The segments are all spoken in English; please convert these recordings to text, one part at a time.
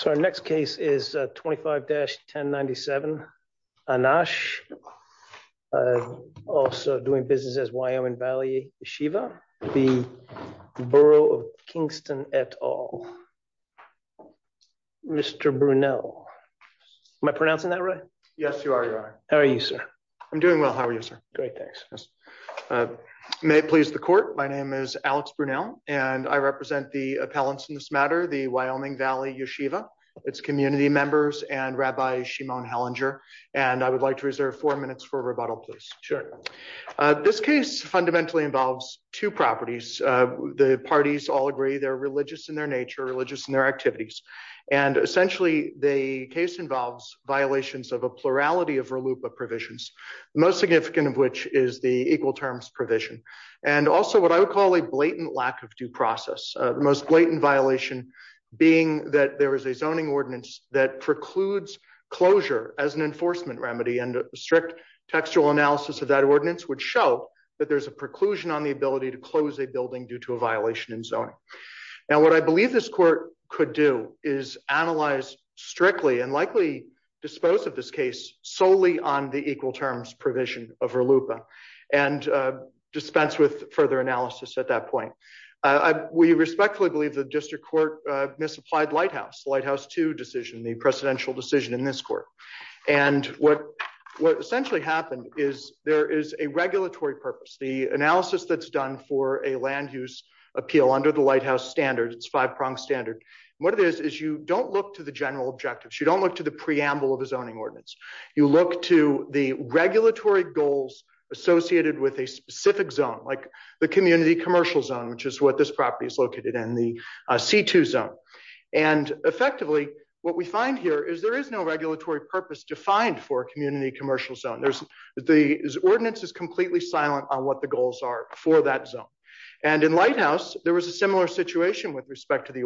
So our next case is 25-1097 Anash, also doing business as Wyoming Valley Beshiva v. Borough of Kingston et al. Mr. Brunel. Am I pronouncing that right? Yes, you are, your honor. How are you, sir? I'm doing well, how are you, sir? Great, thanks. May it please the court, my name is Alex Brunel and I represent the appellants in this matter, the Wyoming Valley Yeshiva, its community members, and Rabbi Shimon Hellinger, and I would like to reserve four minutes for rebuttal, please. Sure. This case fundamentally involves two properties. The parties all agree they're religious in their nature, religious in their activities, and essentially the case involves violations of a plurality of RLUIPA provisions, the most significant of which is the equal terms provision, and also what I would call a blatant lack of due process, the most blatant violation being that there is a zoning ordinance that precludes closure as an enforcement remedy and a strict textual analysis of that ordinance would show that there's a preclusion on the ability to close a building due to a violation in zoning. Now what I believe this court could do is analyze strictly and likely dispose of this case solely on the equal terms provision of RLUIPA and dispense with further analysis at that point. We respectfully believe the district court misapplied Lighthouse, Lighthouse 2 decision, the precedential decision in this court, and what essentially happened is there is a regulatory purpose, the analysis that's done for a land use appeal under the Lighthouse standard, its five-prong standard, and what it is is you don't look to the general objectives, you don't look to the preamble of the zoning ordinance, you look to the regulatory goals associated with a specific zone, like the community commercial zone, which is what this property is located in, the C2 zone, and effectively what we find here is there is no regulatory purpose defined for a community commercial zone. There's the ordinance is completely silent on what the goals are for that zone, and in Lighthouse there was a similar situation with respect to the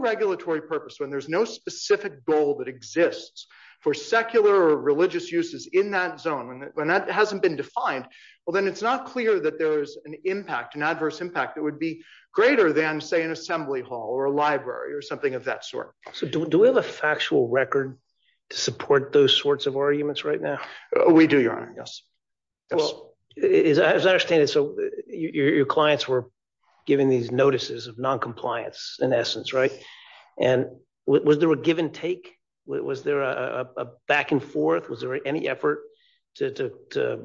regulatory purpose when there's no specific goal that exists for secular or religious uses in that zone, when that hasn't been defined, well then it's not clear that there's an impact, an adverse impact, that would be greater than say an assembly hall or a library or something of that sort. So do we have a factual record to support those sorts of arguments right now? We do, your honor, yes. Well, as I understand it, so your clients were giving these notices of non-compliance in essence, and was there a give and take? Was there a back and forth? Was there any effort to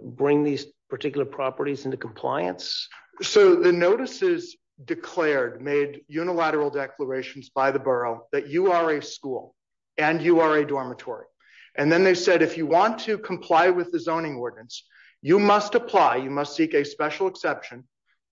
bring these particular properties into compliance? So the notices declared, made unilateral declarations by the borough, that you are a school and you are a dormitory, and then they said if you want to comply with the zoning ordinance, you must apply, you must seek a special exception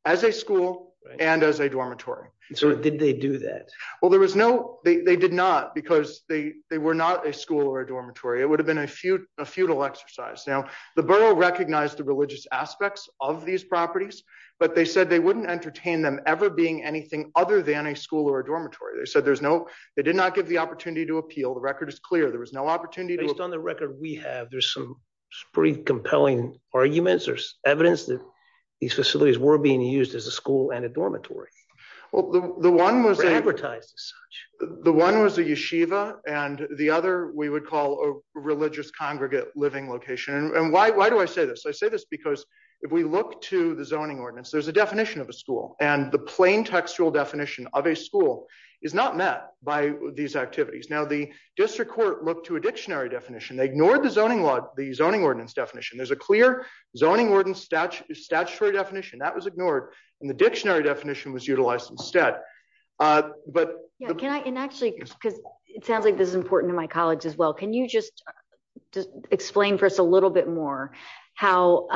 as a school and as a dormitory. So did they do that? Well, there was no, they did not, because they were not a school or a dormitory. It would have been a futile exercise. Now the borough recognized the religious aspects of these properties, but they said they wouldn't entertain them ever being anything other than a school or a dormitory. They said there's no, they did not give the opportunity to appeal, the record is clear, there was no opportunity. Based on the record we have, there's some pretty compelling arguments, there's evidence that these facilities were being used as a school and a dormitory. Well, the one was advertised as such. The one was a yeshiva and the other we would call a religious congregate living location. And why do I say this? I say this because if we look to the zoning ordinance, there's a definition of a school and the plain textual definition of a school is not met by these activities. Now the district court looked to a dictionary definition, they ignored the zoning law, the zoning ordinance definition. There's a clear zoning ordinance statutory definition, that was ignored and the dictionary definition was utilized instead. But can I, and actually because it sounds like this is important to my colleagues as well, can you just explain for us a little bit more how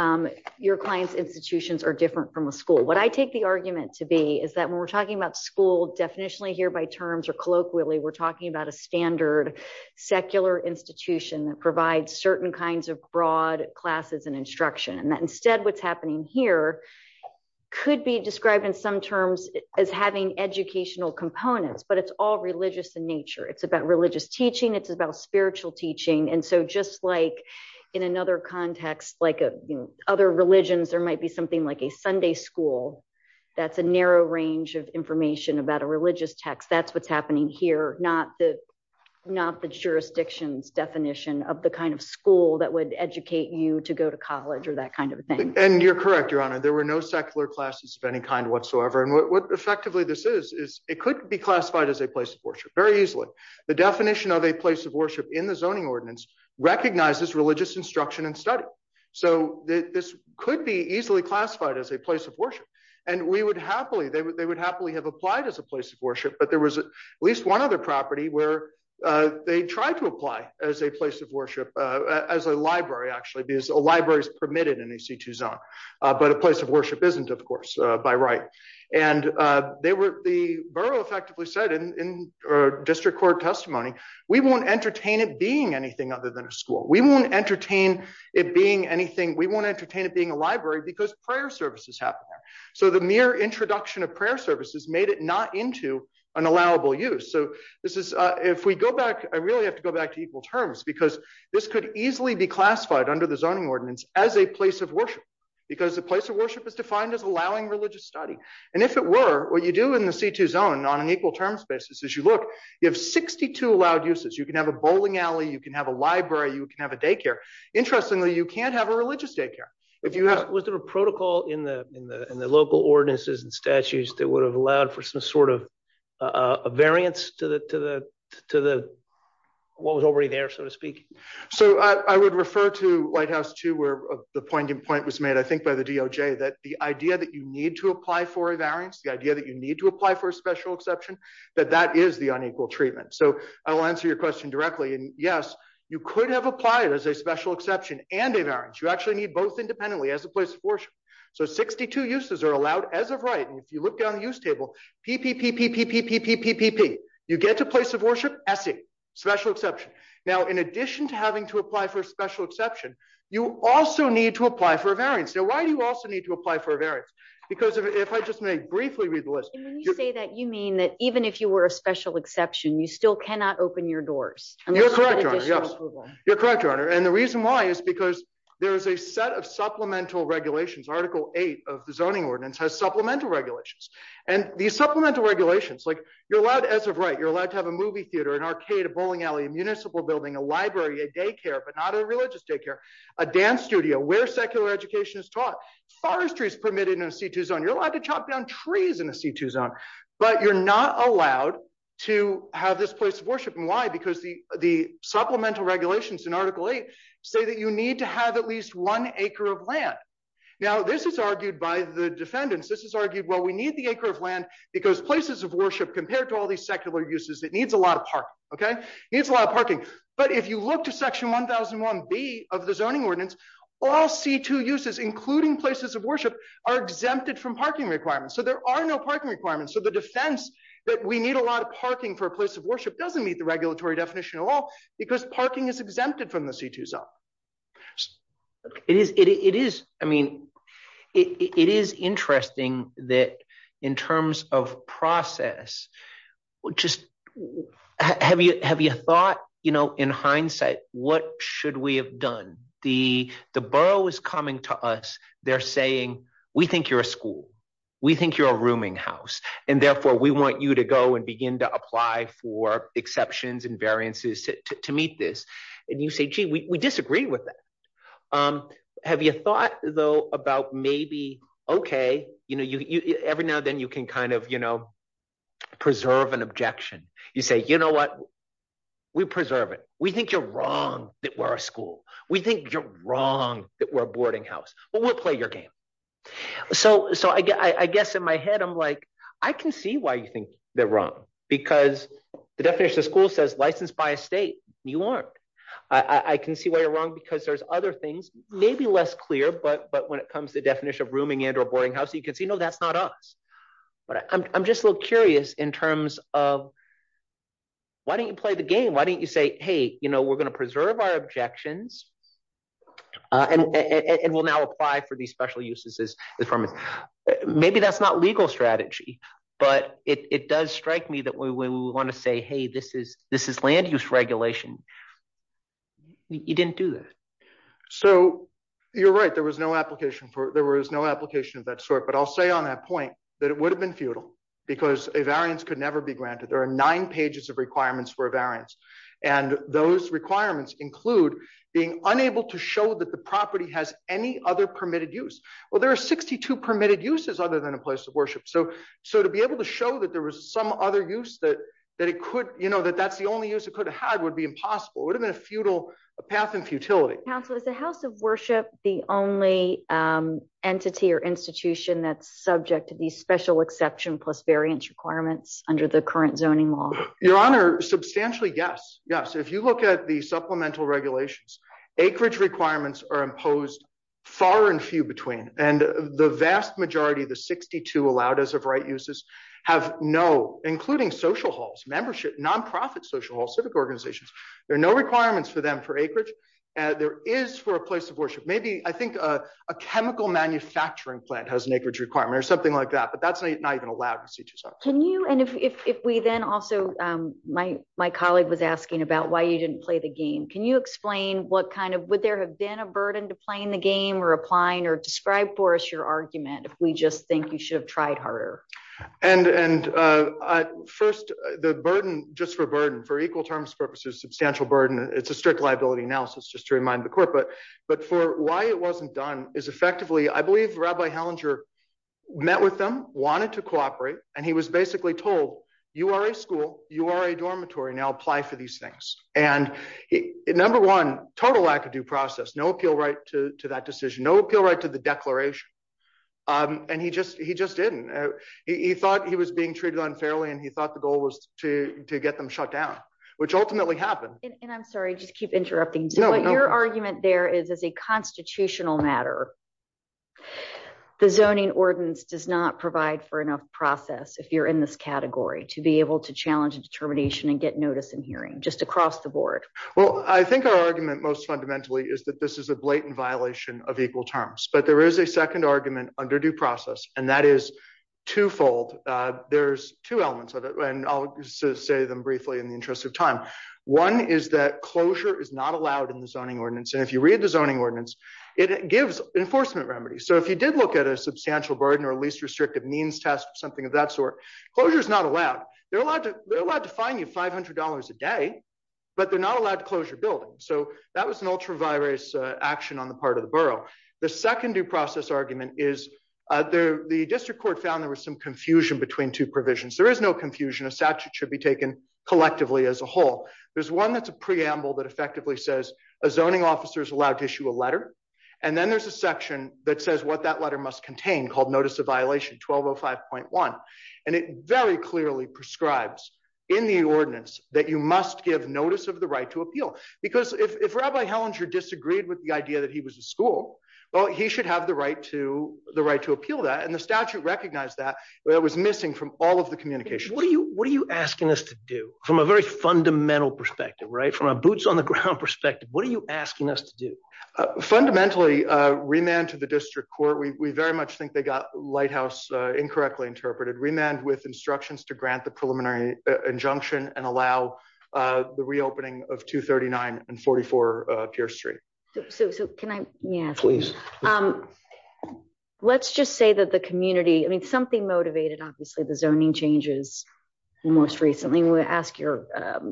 your client's institutions are different from a school? What I take the argument to be is that when we're talking about school definitionally here by terms or colloquially, we're talking about a standard secular institution that provides certain kinds of broad classes and instruction. And that instead what's happening here could be described in some terms as having educational components, but it's all religious in nature. It's about religious teaching, it's about spiritual teaching. And so just like in another context, like other religions, there might be something like a Sunday school, that's a narrow range of information about a religious text. That's what's happening here, not the jurisdictions definition of the kind of school that would educate you to go to college or that kind of thing. And you're correct, Your Honor. There were no secular classes of any kind whatsoever. And what effectively this is, is it could be classified as a place of worship very easily. The definition of a place of worship in the zoning ordinance recognizes religious instruction and study. So this could be easily classified as a place of worship. And we would happily, they would happily have applied as a place of worship, but there was at least one other property where they tried to as a place of worship, as a library, actually, because a library is permitted in EC2 zone, but a place of worship isn't, of course, by right. And they were, the borough effectively said in district court testimony, we won't entertain it being anything other than a school. We won't entertain it being anything, we won't entertain it being a library because prayer services happen there. So the mere introduction of prayer services made it not into an allowable use. So this is, if we go back, I really have to go back to equal terms because this could easily be classified under the zoning ordinance as a place of worship, because the place of worship is defined as allowing religious study. And if it were what you do in the C2 zone on an equal terms basis, as you look, you have 62 allowed uses. You can have a bowling alley, you can have a library, you can have a daycare. Interestingly, you can't have a religious daycare. Was there a protocol in the local ordinances and statutes that would have allowed for some sort of variance to the, what was already there, so to speak? So I would refer to White House too, where the point in point was made, I think by the DOJ, that the idea that you need to apply for a variance, the idea that you need to apply for a special exception, that that is the unequal treatment. So I will answer your question directly. And yes, you could have applied as a special exception and a variance. You actually need both independently as a place of worship. So 62 uses are allowed as right. And if you look down the use table, PPPPPPPPP, you get to place of worship, essay, special exception. Now, in addition to having to apply for a special exception, you also need to apply for a variance. So why do you also need to apply for a variance? Because if I just may briefly read the list. And when you say that, you mean that even if you were a special exception, you still cannot open your doors? You're correct, Your Honor. Yes. You're correct, Your Honor. And the reason why is because there is a set of supplemental regulations. Article 8 of the zoning ordinance has supplemental regulations and the supplemental regulations like you're allowed as of right, you're allowed to have a movie theater, an arcade, a bowling alley, a municipal building, a library, a daycare, but not a religious daycare, a dance studio where secular education is taught. Forestry is permitted in a C2 zone. You're allowed to chop down trees in a C2 zone, but you're not allowed to have this place of worship. And why? Because the the supplemental regulations in Article 8 say that you need to have at least one acre of land. Now, this is argued by the defendants. This is argued, well, we need the acre of land because places of worship compared to all these secular uses, it needs a lot of parking. OK, it's a lot of parking. But if you look to Section 1001B of the zoning ordinance, all C2 uses, including places of worship, are exempted from parking requirements. So there are no parking requirements. So the defense that we need a lot of parking for a place of worship doesn't meet the regulatory definition at all because parking is exempted from the C2 zone. It is. It is. I mean, it is interesting that in terms of process, just have you have you thought, you know, in hindsight, what should we have done? The the borough is coming to us. They're saying we think you're a school. We think you're a rooming house. And therefore, we want you to go and begin to apply for exceptions and variances to meet this. And you say, gee, we disagree with that. Have you thought, though, about maybe, OK, you know, every now and then you can kind of, you know, preserve an objection. You say, you know what? We preserve it. We think you're wrong that we're a school. We think you're wrong that we're a boarding house. But we'll play your game. So so I guess in my head, I'm like, I can see why you licensed by a state. You aren't. I can see why you're wrong because there's other things, maybe less clear. But but when it comes to definition of rooming and or boarding house, you can see, no, that's not us. But I'm just a little curious in terms of. Why don't you play the game? Why don't you say, hey, you know, we're going to preserve our objections and we'll now apply for these special uses as the firm. Maybe that's not legal strategy, but it does strike me that we want to say, hey, this is this is land use regulation. You didn't do that. So you're right. There was no application for there was no application of that sort. But I'll say on that point that it would have been futile because a variance could never be granted. There are nine pages of requirements for a variance. And those requirements include being unable to show that the property has any other permitted use. Well, there are 62 uses other than a place of worship. So so to be able to show that there was some other use that that it could, you know, that that's the only use it could have had would be impossible. It would have been a futile path and futility. Council is the House of Worship the only entity or institution that's subject to these special exception plus variance requirements under the current zoning law? Your Honor, substantially. Yes. Yes. If you look at the supplemental regulations, acreage requirements are imposed far and few between. And the vast majority, the 62 allowed as of right uses have no including social halls, membership, nonprofit social civic organizations. There are no requirements for them for acreage. And there is for a place of worship. Maybe I think a chemical manufacturing plant has an acreage requirement or something like that. But that's not even allowed. Can you and if we then also my my colleague was asking about why you didn't play the game. Can you explain what kind of would have been a burden to playing the game or applying or describe for us your argument? If we just think you should have tried harder. And and first, the burden just for burden for equal terms purposes, substantial burden. It's a strict liability analysis, just to remind the court. But but for why it wasn't done is effectively, I believe Rabbi Hellinger met with them, wanted to cooperate. And he was basically told you are a school, you are a to to that decision, no appeal right to the declaration. And he just he just didn't. He thought he was being treated unfairly. And he thought the goal was to get them shut down, which ultimately happened. And I'm sorry, just keep interrupting. So your argument there is, as a constitutional matter, the zoning ordinance does not provide for enough process. If you're in this category to be able to challenge a determination and get notice and hearing just across the board? Well, I think our argument most fundamentally is that this is a blatant violation of equal terms. But there is a second argument under due process. And that is twofold. There's two elements of it. And I'll say them briefly in the interest of time. One is that closure is not allowed in the zoning ordinance. And if you read the zoning ordinance, it gives enforcement remedies. So if you did look at a substantial burden or least restrictive means test, something of that sort, closure is not allowed. They're allowed to they're allowed to find you $500 a day, but they're not allowed closure building. So that was an ultra virus action on the part of the borough. The second due process argument is there the district court found there was some confusion between two provisions. There is no confusion a statute should be taken collectively as a whole. There's one that's a preamble that effectively says a zoning officers allowed to issue a letter. And then there's a section that says what that letter must contain called notice of violation 1205.1. And it very clearly prescribes in the ordinance that you must give notice of the right to appeal. Because if Rabbi Hellinger disagreed with the idea that he was a school, well, he should have the right to the right to appeal that and the statute recognize that it was missing from all of the communication. What are you what are you asking us to do from a very fundamental perspective, right from a boots on the ground perspective? What are you asking us to do? Fundamentally, remand to the district court, we very much think they got lighthouse incorrectly interpreted remand with instructions to grant the preliminary injunction and allow the reopening of 239 and 44 pier street. So can I Yeah, please. Let's just say that the community I mean, something motivated, obviously, the zoning changes. Most recently, we asked your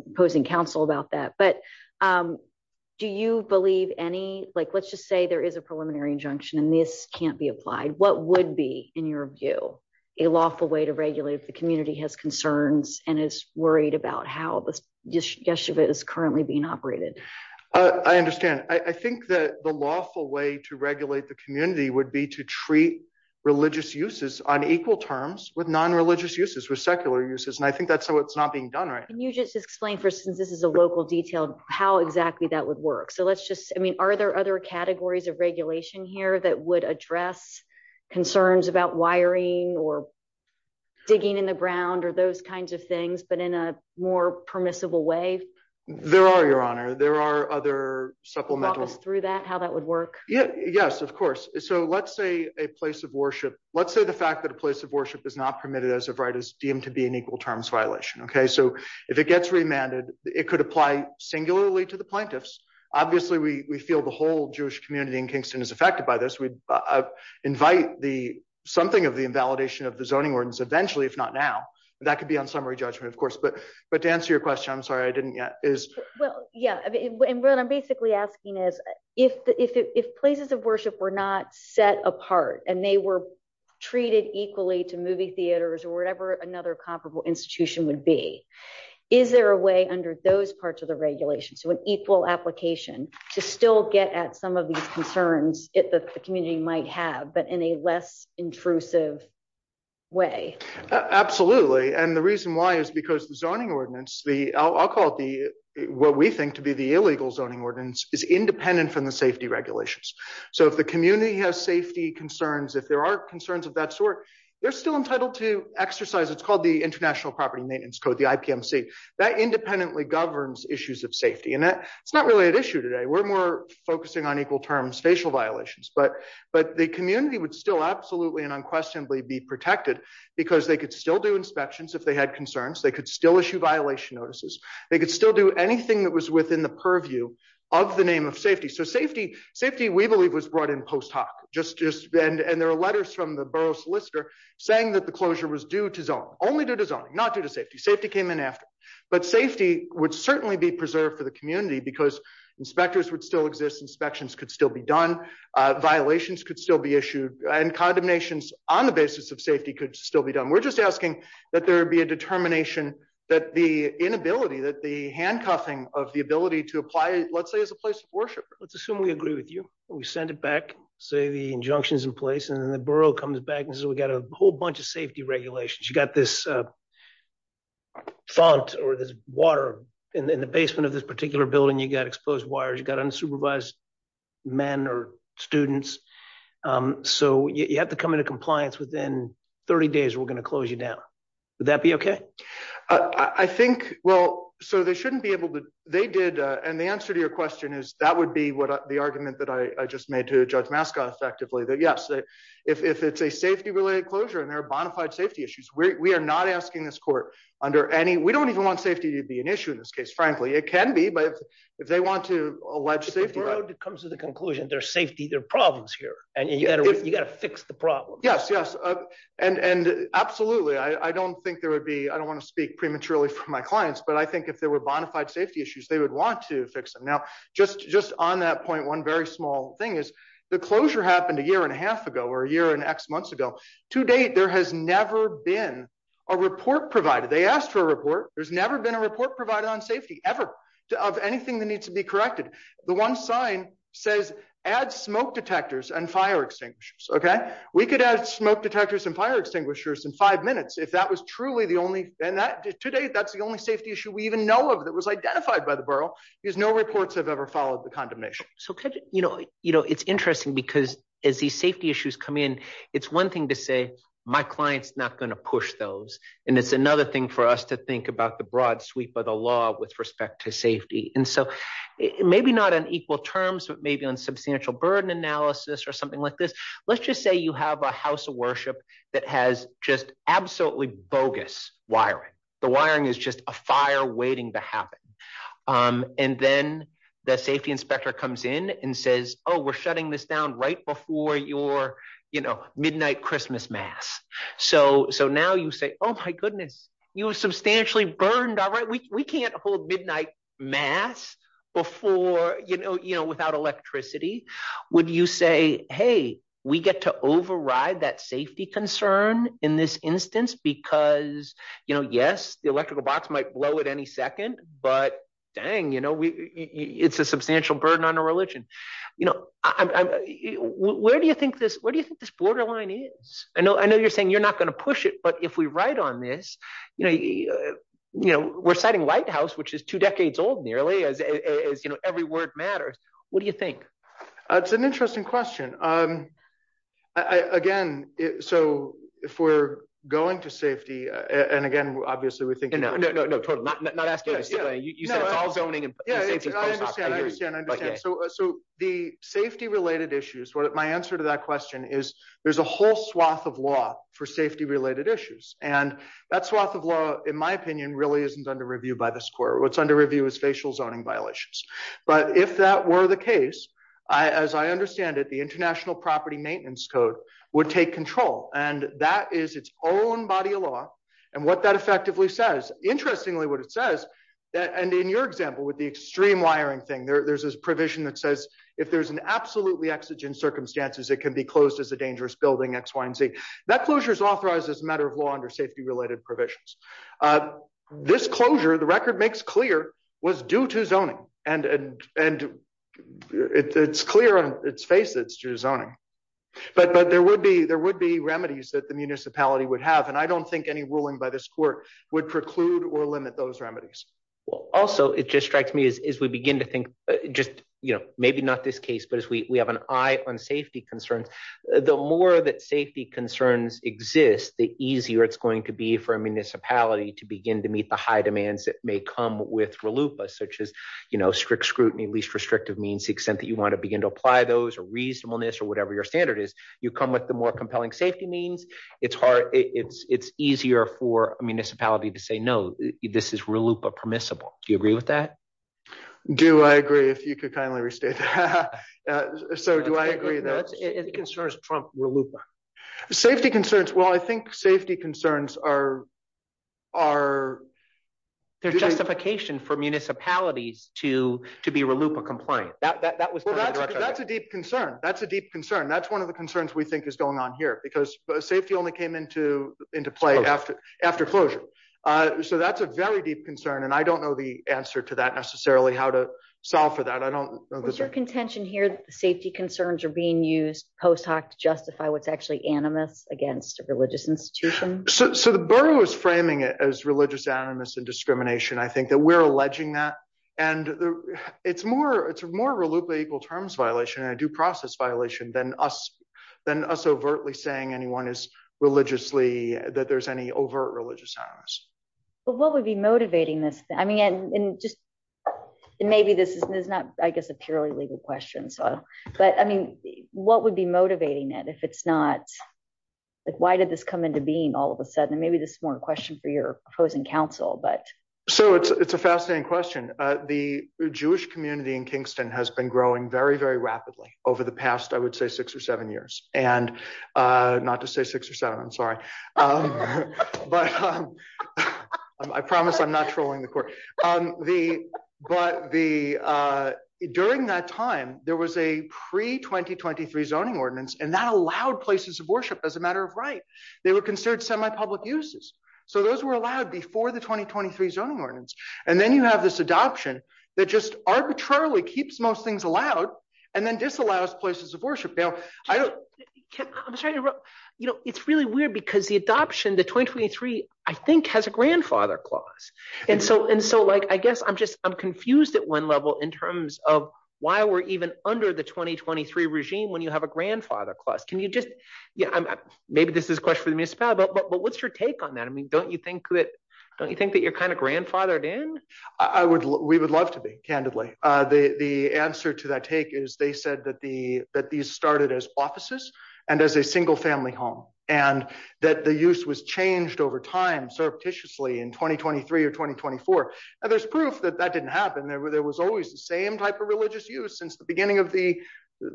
opposing counsel about that. But do you believe any, like, let's just say there is a preliminary injunction, and this can't be applied, what would be in your view, a lawful way to regulate the community has concerns and is worried about how this just yesterday is currently being operated. I understand. I think that the lawful way to regulate the community would be to treat religious uses on equal terms with non religious uses with secular uses. And I think that's how it's not being done, right? Can you just explain for instance, this is a local detail, how exactly that would work. So let's just I mean, are there other categories of regulation here that would address concerns about wiring or digging in the ground or those kinds of things, but in a more permissible way? There are your honor, there are other supplemental through that how that would Yeah, yes, of course. So let's say a place of worship, let's say the fact that a place of worship is not permitted, as of right is deemed to be an equal terms violation. Okay, so if it gets remanded, it could apply singularly to the plaintiffs. Obviously, we feel the whole Jewish community in Kingston is affected by this, we invite the something of the invalidation of the zoning ordinance eventually, if not now, that could be on summary judgment, of course, but but to answer your question, I'm sorry, I didn't yet is, well, yeah, I mean, when I'm basically asking is, if the if places of worship were not set apart, and they were treated equally to movie theaters, or whatever another comparable institution would be, is there a way under those parts of the regulation, so an equal application to still get at some of these concerns it the community might have, but in a less intrusive way? Absolutely. And the reason why is because zoning ordinance, the I'll call it the what we think to be the illegal zoning ordinance is independent from the safety regulations. So if the community has safety concerns, if there are concerns of that sort, they're still entitled to exercise, it's called the International Property Maintenance Code, the IPMC, that independently governs issues of safety. And that's not really an issue today, we're more focusing on equal terms facial violations, but, but the community would still absolutely and unquestionably be protected, because they could still do inspections, if they had concerns, they could still issue violation notices, they could still do anything that was within the purview of the name of safety. So safety, safety, we believe was brought in post hoc, just just been and there are letters from the borough solicitor, saying that the closure was due to zone only due to zoning, not due to safety, safety came in after. But safety would certainly be preserved for the community, because inspectors would still exist, inspections could still be done, violations could still be issued, and condemnations on the basis of safety could still be done, we're just asking that there be a determination that the inability that the handcuffing of the ability to apply, let's say, as a place of worship, let's assume we agree with you, we send it back, say the injunctions in place, and then the borough comes back and says, we got a whole bunch of safety regulations, you got this font or this water in the basement of this particular building, you got exposed wires, you got unsupervised men or students. So you have to come into compliance within 30 days, we're going to close you down. Would that be okay? I think well, so they shouldn't be able to, they did. And the answer to your question is that would be what the argument that I just made to judge mascot effectively that yes, if it's a safety related closure, and there are bonafide safety issues, we are not asking this court under any we don't even want safety to be an issue. In this case, frankly, it can be but if they want to allege safety comes to the conclusion their safety, their problems here, and you got to you got to fix the problem. Yes, yes. And absolutely. I don't think there would be I don't want to speak prematurely for my clients. But I think if there were bonafide safety issues, they would want to fix them. Now, just just on that point, one very small thing is the closure happened a year and a half ago, or a year and x months ago, to date, there has never been a report provided, they asked for a report, there's never been a says, add smoke detectors and fire extinguishers. Okay, we could add smoke detectors and fire extinguishers in five minutes, if that was truly the only thing that today, that's the only safety issue we even know of that was identified by the borough is no reports have ever followed the condemnation. So, you know, you know, it's interesting, because as the safety issues come in, it's one thing to say, my clients not going to push those. And it's another thing for us to think about the broad sweep of the law with respect to safety. And so maybe not an equal terms, but maybe on substantial burden analysis or something like this. Let's just say you have a house of worship that has just absolutely bogus wiring, the wiring is just a fire waiting to happen. And then the safety inspector comes in and says, Oh, we're shutting this down right before your, you know, midnight Christmas mass. So so now you say, Oh, my goodness, you substantially burned. All right, we can't hold midnight mass before, you know, you know, without electricity, would you say, hey, we get to override that safety concern in this instance, because, you know, yes, the electrical box might blow at any second, but dang, you know, we, it's a substantial burden on our religion. You know, I'm, where do you think this? What do you think this borderline is? I know, I know, you're saying you're not going to push it. But if we write on this, you know, you know, we're setting lighthouse, which is two decades old, nearly as, you know, every word matters. What do you think? That's an interesting question. Again, so if we're going to safety, and again, obviously, we think, you know, no, no, no, not asking. You said all zoning. So the safety related issues, what my answer to that question is, there's a whole swath of law for safety related issues. And that swath of law, in my opinion, really isn't under review by this court. What's under review is facial zoning violations. But if that were the case, as I understand it, the international property maintenance code would take control. And that is its own body of law. And what that effectively says, interestingly, what it says, that and in your example, with the extreme wiring thing, there's this provision that says, if there's an absolutely exigent circumstances, it can be closed as a dangerous building x, y, and z, that closure is authorized as a matter of law under safety related provisions. This closure, the record makes clear was due to zoning, and, and it's clear on its face, it's true zoning. But but there would be there would be remedies that the municipality would have. And I don't think any ruling by this court would preclude or limit those remedies. Well, also, it just strikes me as we begin to think, just, you know, maybe not this case, but as we have an eye on safety concerns, the more that safety concerns exist, the easier it's going to be for a municipality to begin to meet the high demands that may come with RLUIPA, such as, you know, strict scrutiny, least restrictive means, the extent that you want to begin to apply those or reasonableness or whatever your standard is, you come with the more compelling safety means, it's hard, it's it's easier for a municipality to say no, this is RLUIPA permissible. Do you agree with that? Do I agree if you could kindly restate that? So do I agree that safety concerns trump RLUIPA? Safety concerns? Well, I think safety concerns are, are... They're justification for municipalities to to be RLUIPA compliant. That was that's a deep concern. That's a deep concern. That's one of the concerns we think is going on because safety only came into into play after after closure. So that's a very deep concern. And I don't know the answer to that necessarily how to solve for that. I don't know. Was your contention here that the safety concerns are being used post hoc to justify what's actually animus against a religious institution? So the borough is framing it as religious animus and discrimination. I think that we're alleging that and it's more it's more RLUIPA terms violation and a due process violation than us overtly saying anyone is religiously that there's any overt religious animus. But what would be motivating this? I mean, and maybe this is not, I guess, a purely legal question. So, but I mean, what would be motivating it if it's not? Like, why did this come into being all of a sudden? Maybe this is more a question for your opposing council, but... So it's a fascinating question. The Jewish community in Kingston has been growing very, very rapidly over the past, I would say six or seven years and not to say six or seven, I'm sorry. But I promise I'm not trolling the court. But the during that time, there was a pre 2023 zoning ordinance and that allowed places of worship as a matter of right. They were considered semi-public uses. So those were allowed before the 2023 zoning ordinance. And then you have this adoption that just arbitrarily keeps most things allowed and then disallows places of worship. Now, I don't... I'm sorry to interrupt, you know, it's really weird because the adoption, the 2023, I think has a grandfather clause. And so, and so like, I guess I'm just, I'm confused at one level in terms of why we're even under the 2023 regime when you have a grandfather clause. Can you just, yeah, maybe this is a question for the municipality, but what's your take on that? I mean, don't you think that, don't you think that you're kind of grandfathered in? I would, we would love to be, candidly. The answer to that take is they said that the, that these started as offices and as a single family home and that the use was changed over time, surreptitiously in 2023 or 2024. And there's proof that that didn't happen. There were, there was always the same type of religious use since the beginning of the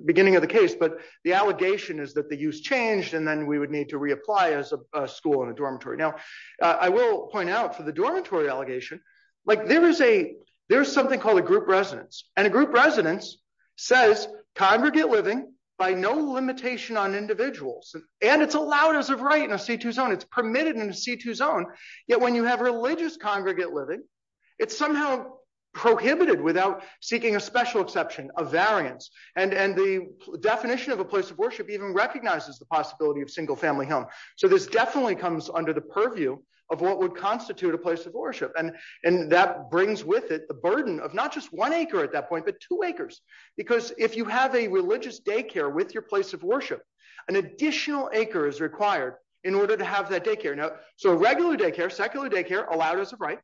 beginning of the case, but the allegation is that the use changed and then we would need to reapply as a school and a dormitory. Now I will point out for the dormitory allegation, like there is a, there's something called a group residence and a group residence says congregate living by no limitation on individuals. And it's allowed as a right in a C2 zone. It's permitted in a C2 zone. Yet when you have religious congregate living, it's somehow prohibited without seeking a special exception of variance. And, and the definition of a place of worship even recognizes the possibility of single family home. So this definitely comes under the purview of what would constitute a place of worship. And, and that brings with it, the burden of not just one acre at that point, but two acres, because if you have a religious daycare with your place of worship, an additional acre is required in order to have that daycare. So regular daycare, secular daycare allowed as a right,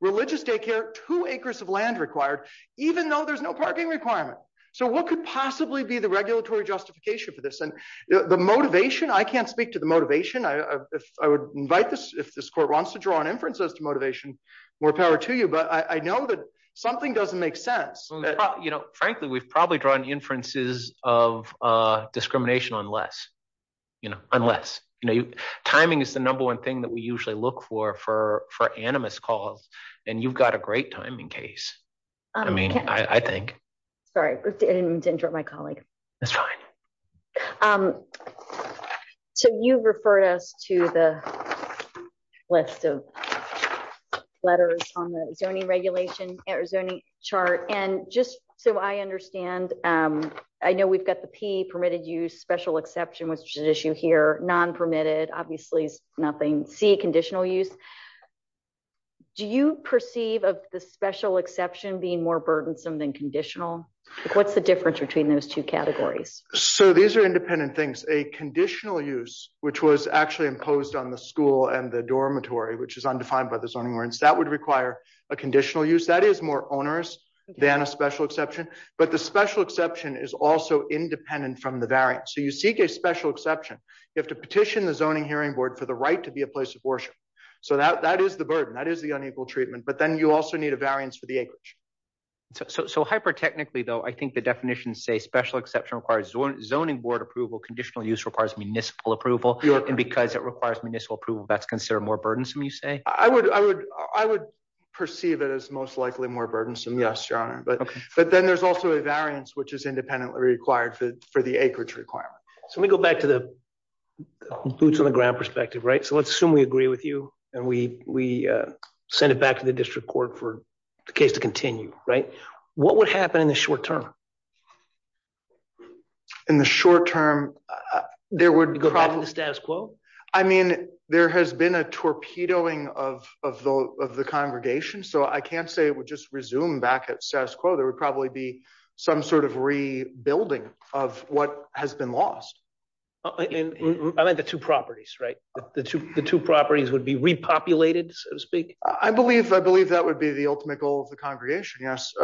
religious daycare, two acres of land required, even though there's no parking requirement. So what could possibly be the regulatory justification for this? And the motivation, I can't speak to the motivation. I, if I would invite this, if this court wants to draw on inferences to motivation, more power to you, but I know that something doesn't make sense. You know, frankly, we've probably drawn inferences of discrimination on less, you know, unless, you know, timing is the number one thing that we usually look for, for, you've got a great timing case. I mean, I think. Sorry, I didn't mean to interrupt my colleague. That's fine. So you've referred us to the list of letters on the zoning regulation or zoning chart. And just so I understand, I know we've got the P, permitted use, special exception, which is an issue here, non-permitted, obviously is nothing. C, conditional use. Do you perceive of the special exception being more burdensome than conditional? What's the difference between those two categories? So these are independent things, a conditional use, which was actually imposed on the school and the dormitory, which is undefined by the zoning ordinance that would require a conditional use that is more onerous than a special exception, but the special exception is also independent from the variant. So you seek a special exception. You have to petition the zoning hearing board for the right to be a place of worship. So that, that is the burden that is the unequal treatment, but then you also need a variance for the acreage. So, so, so hyper technically though, I think the definition say special exception requires zoning board approval, conditional use requires municipal approval. And because it requires municipal approval, that's considered more burdensome, you say? I would, I would, I would perceive it as most likely more burdensome. Yes, your honor. But, but then there's also a variance, which is independently required for the acreage requirement. So let me go back to the boots on the ground perspective, right? So let's assume we agree with you and we, we send it back to the district court for the case to continue, right? What would happen in the short term? In the short term, there would go back to the status quo. I mean, there has been a torpedoing of, of the, of the congregation. So I can't say it would just resume back at status quo. There would probably be some sort of rebuilding of what has been lost. I meant the two properties, right? The two properties would be repopulated, so to speak. I believe, I believe that would be the ultimate goal of the congregation. Yes.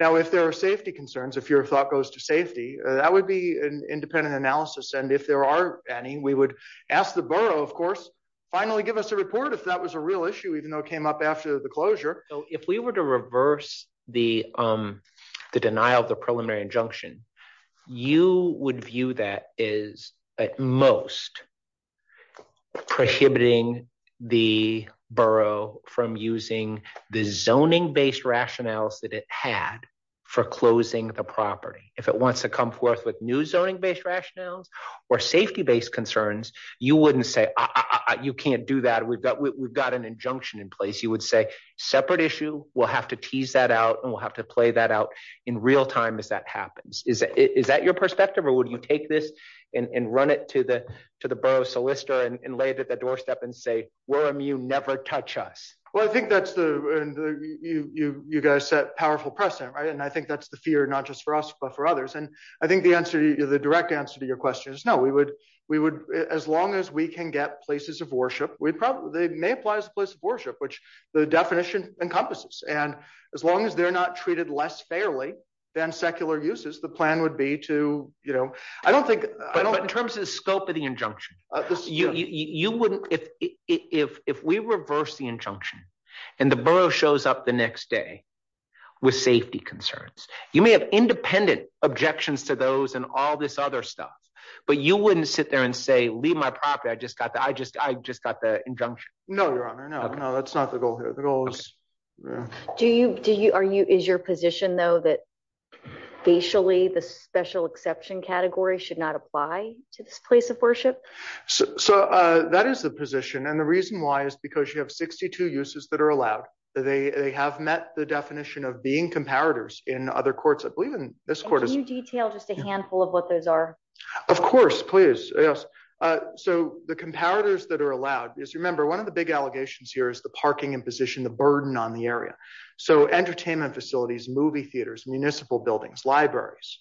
Now, if there are safety concerns, if your thought goes to safety, that would be an independent analysis. And if there are any, we would ask the borough, of course, finally give us a report. If that was a real issue, even though it came up after the closure. So if we were to reverse the the denial of the preliminary injunction, you would view that is at most prohibiting the borough from using the zoning-based rationales that it had for closing the property. If it wants to come forth with new zoning-based rationales or safety-based concerns, you wouldn't say, you can't do that. We've got, we've got an injunction in place. You would say separate issue. We'll have to tease that out and we'll have to play that out in real time as that happens. Is that your perspective or would you take this and run it to the, to the borough solicitor and lay it at the doorstep and say, we're immune, never touch us? Well, I think that's the, you guys set powerful precedent, right? And I think that's the fear, not just for us, but for others. And I think the answer, the direct answer to your question is no, we would, we would, as long as we can get places of worship, we probably, they may apply as a place of worship, which the definition encompasses. And as long as they're not treated less fairly than secular uses, the plan would be to, you know, I don't think in terms of the scope of the injunction, you wouldn't, if we reverse the injunction and the borough shows up the next day with safety concerns, you may have independent objections to those and all this other stuff, but you wouldn't sit there and say, leave my property. I just got the, I just, I just got the injunction. No, your honor. No, no, that's not the goal here. The goal is. Do you, do you, are you, is your position though, that facially the special exception category should not apply to this place of worship? So that is the position. And the reason why is because you have 62 uses that are allowed. They have met the definition of being comparators in other courts. I believe in this court. Can you detail just a handful of what those are? Of course, please. Yes. So the comparators that are allowed is remember one of the big allegations here is the parking and position, the burden on the area. So entertainment facilities, movie theaters, municipal buildings, libraries,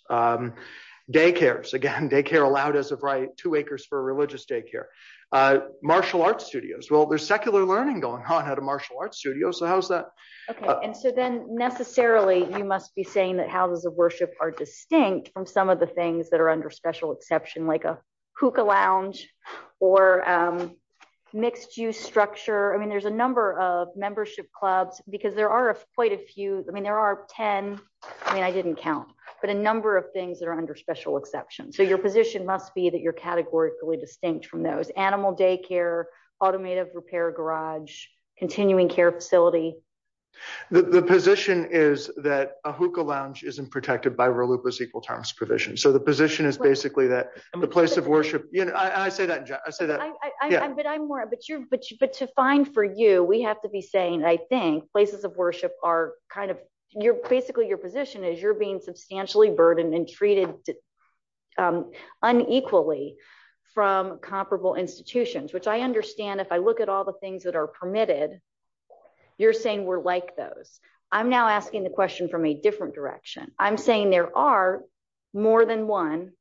daycares, again, daycare allowed as of right two acres for religious daycare, martial arts studios. Well, there's secular learning going on at a martial arts studio. So how's that? Okay. And so then necessarily you must be saying that houses of worship are distinct from some of the things that are under special exception, like a hookah lounge or mixed juice structure. I mean, there's a number of membership clubs because there are quite a few, I mean, there are 10, I mean, I didn't count, but a number of things that are under special exception. So your position must be that you're categorically distinct from those animal daycare, automotive repair garage, continuing care facility. The position is that a hookah lounge isn't protected by real loop is equal terms provision. So the position is basically that the place of worship, I say that, I say that. But I'm more, but you're, but you, but to find for you, we have to be saying, I think places of worship are kind of your, basically your position is you're being substantially burdened and treated unequally from comparable institutions, which I understand. If I look at all the things that are permitted, you're saying we're like those. I'm now asking the question from a different direction. I'm saying there are more than one.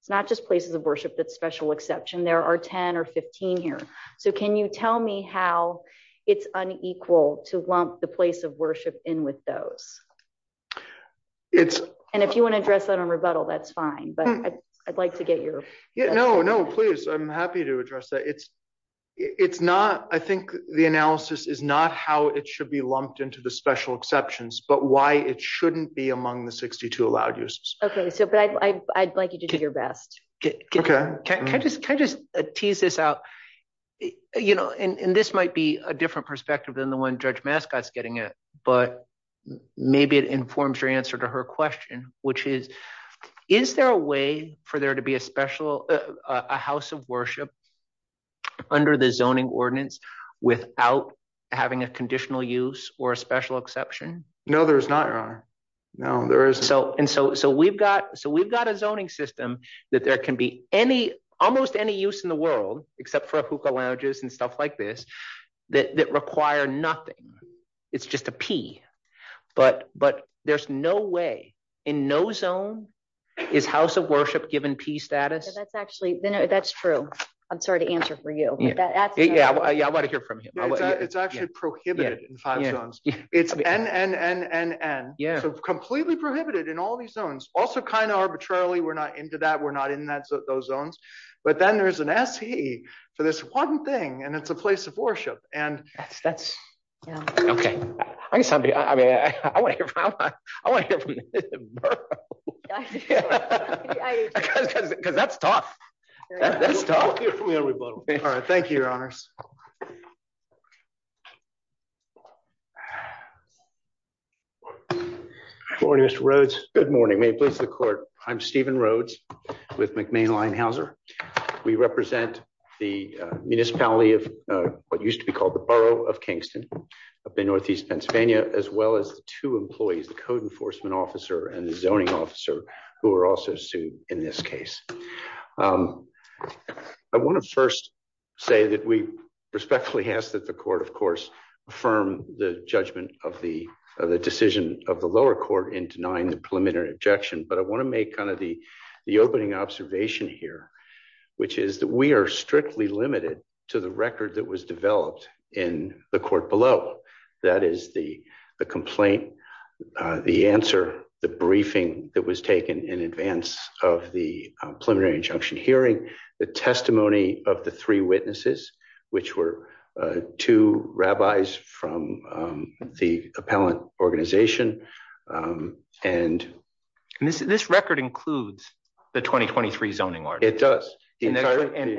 It's not just places of worship. That's special exception. There are 10 or 15 here. So can you tell me how it's unequal to lump the place of worship in with those? It's, and if you want to address that on rebuttal, that's fine. But I'd like to get your, no, no, please. I'm happy to address that. It's, it's not, I think the analysis is not how it should be lumped into the special exceptions, but why it shouldn't be among the 62 allowed uses. Okay. So, but I, I'd like you to do your best. Okay. Can I just, can I just tease this out, you know, and this might be a different perspective than the one judge mascots getting it, but maybe it informs your answer to her question, which is, is there a way for there to be a special, a house of worship under the zoning ordinance without having a conditional use or a special exception? No, there's not your honor. No, there isn't. So, and so, so we've got, so we've got a zoning system that there can be any, almost any use in the world, except for a hookah lounges and stuff like this that require nothing. It's just a P, but, but there's no way in no zone is house of worship given P status. That's actually, that's true. I'm sorry to answer for you. Yeah. Yeah. I want to hear from him. It's actually prohibited in five zones. It's N, N, N, N, N. Yeah. So completely prohibited in all these zones. Also kind of arbitrarily. We're not into that. We're not in that, those zones, but then there's an SE for this one thing. And it's a place of worship. And that's, that's okay. I guess somebody, I mean, I want to hear from him because that's tough. That's tough. All right. Thank you, your honors. Good morning, Mr. Rhodes. Good morning. May it please the court. I'm Steven Rhodes with McMain Linehauser. We represent the municipality of what used to be called the borough of Kingston up in Northeast Pennsylvania, as well as the two employees, the code enforcement officer and the zoning officer who are also sued in this case. I want to first say that we respectfully ask that the court, of course, affirm the judgment of the decision of the lower court in denying the preliminary objection. But I want to make kind of the opening observation here, which is that we are strictly limited to the record that was developed in the court below. That is the complaint, the answer, the briefing that was taken in advance of the preliminary injunction hearing, the testimony of the three witnesses, which were two rabbis from the appellant organization. And this record includes the 2023 zoning ordinance. It does. And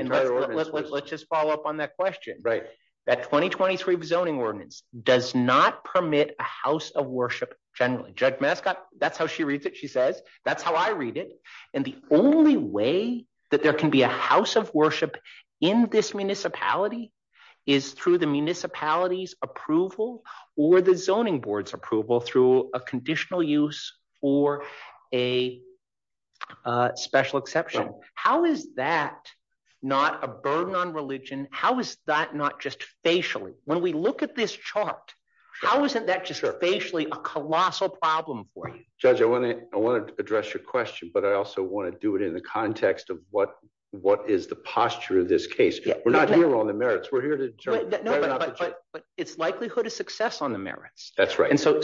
let's just follow up on that question, right? That 2023 zoning ordinance does not permit a house of worship. Generally, Judge Mascot, that's how she reads it. She says, that's how I read it. And the only way that there can be a house of worship in this municipality is through the municipality's approval or the zoning board's approval through a conditional use or a special exception. How is that not a burden on religion? How is that not just facially? When we look at this chart, how isn't that just facially a colossal problem for you? Judge, I want to address your question, but I also want to do it in the context of what is the posture of this case? We're not here on the merits. We're here to determine. No, but it's likelihood of success on the merits. That's right. And so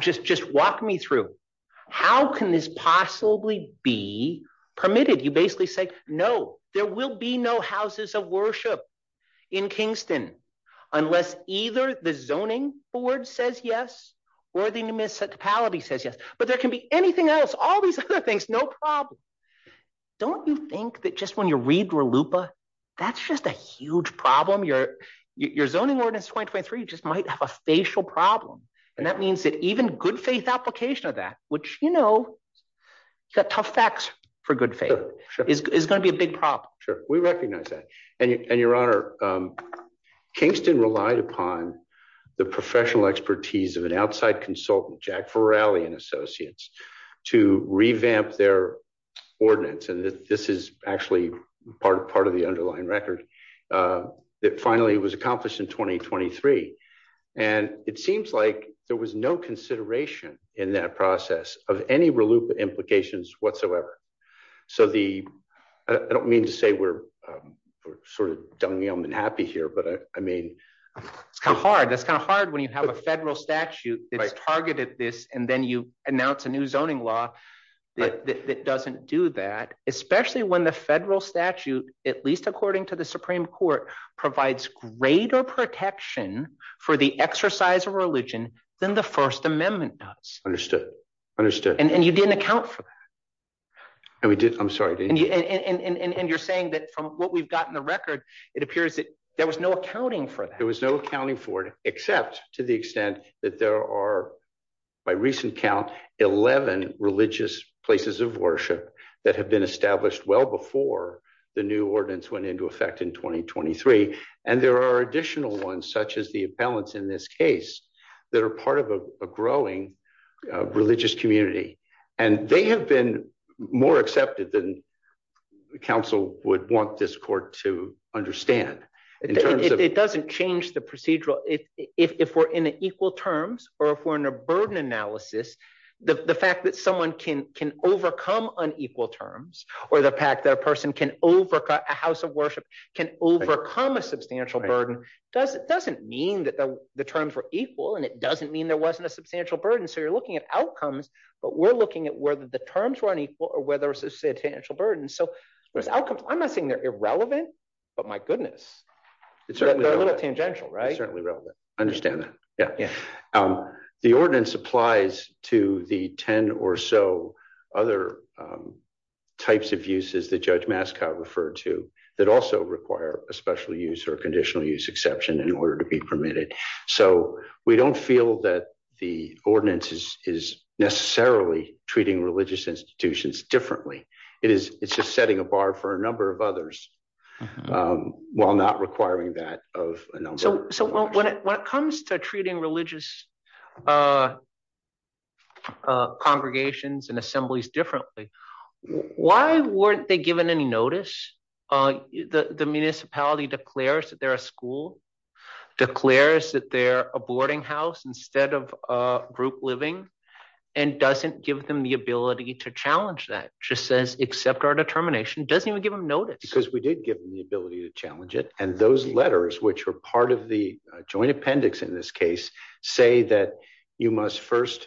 just walk me through, how can this possibly be permitted? You basically say, no, there will be no houses of worship in Kingston unless either the zoning board says yes or the municipality says yes. But there can be anything else, all these other things, no problem. Don't you think that just when you read RLUIPA, that's just a huge problem? Your zoning ordinance 2023 just might have a facial problem. And that means that even good faith application of that, which, you know, you got tough facts for good faith, is going to be a big problem. We recognize that. And your honor, Kingston relied upon the professional expertise of an outside consultant, Jack Farrelly and associates, to revamp their ordinance. And this is actually part of the underlying record that finally was accomplished in 2023. And it seems like there was no consideration in that process of any RLUIPA implications whatsoever. So the, I don't mean to say we're sort of dumb and happy here, but I mean. It's kind of hard. That's kind of hard when you have a federal statute that's targeted this, and then you announce a new zoning law that doesn't do that, especially when the federal statute, at least according to the Supreme Court, provides greater protection for the exercise of religion than the First Amendment does. Understood, understood. And you didn't account for that. I'm sorry, and you're saying that from what we've got in the record, it appears that there was no accounting for that. There was no accounting for it, except to the extent that there are, by recent count, 11 religious places of worship that have been established well before the new ordinance went into effect in 2023. And there are additional ones such as the appellants in this case that are part of a growing religious community. And they have been more accepted than counsel would want this court to understand. It doesn't change the procedural. If we're in equal terms, or if we're in a burden analysis, the fact that someone can overcome unequal terms, or the fact that a person can overcome, a house of worship can overcome a substantial burden, doesn't mean that the terms were equal, and it doesn't mean there wasn't a substantial burden. So you're looking at outcomes, but we're looking at whether the terms were unequal or whether there was a substantial burden. So those outcomes, I'm not saying they're irrelevant, but my goodness, they're a little tangential, right? It's certainly relevant. I understand that, yeah. The ordinance applies to the 10 or so other types of uses that Judge Mascow referred to that also require a special use or conditional use exception in order to be permitted. So we don't feel that the ordinance is necessarily treating religious institutions differently. It's just setting a bar for a number of others while not requiring that of a number. So when it comes to treating religious congregations and assemblies differently, why weren't they given any notice? The municipality declares that they're a school, declares that they're a boarding house instead of a group living, and doesn't give them the ability to challenge that, just says, accept our determination, doesn't even give them notice. Because we did give them the ability to challenge it, and those letters, which were part of the joint appendix in this case, say that you must first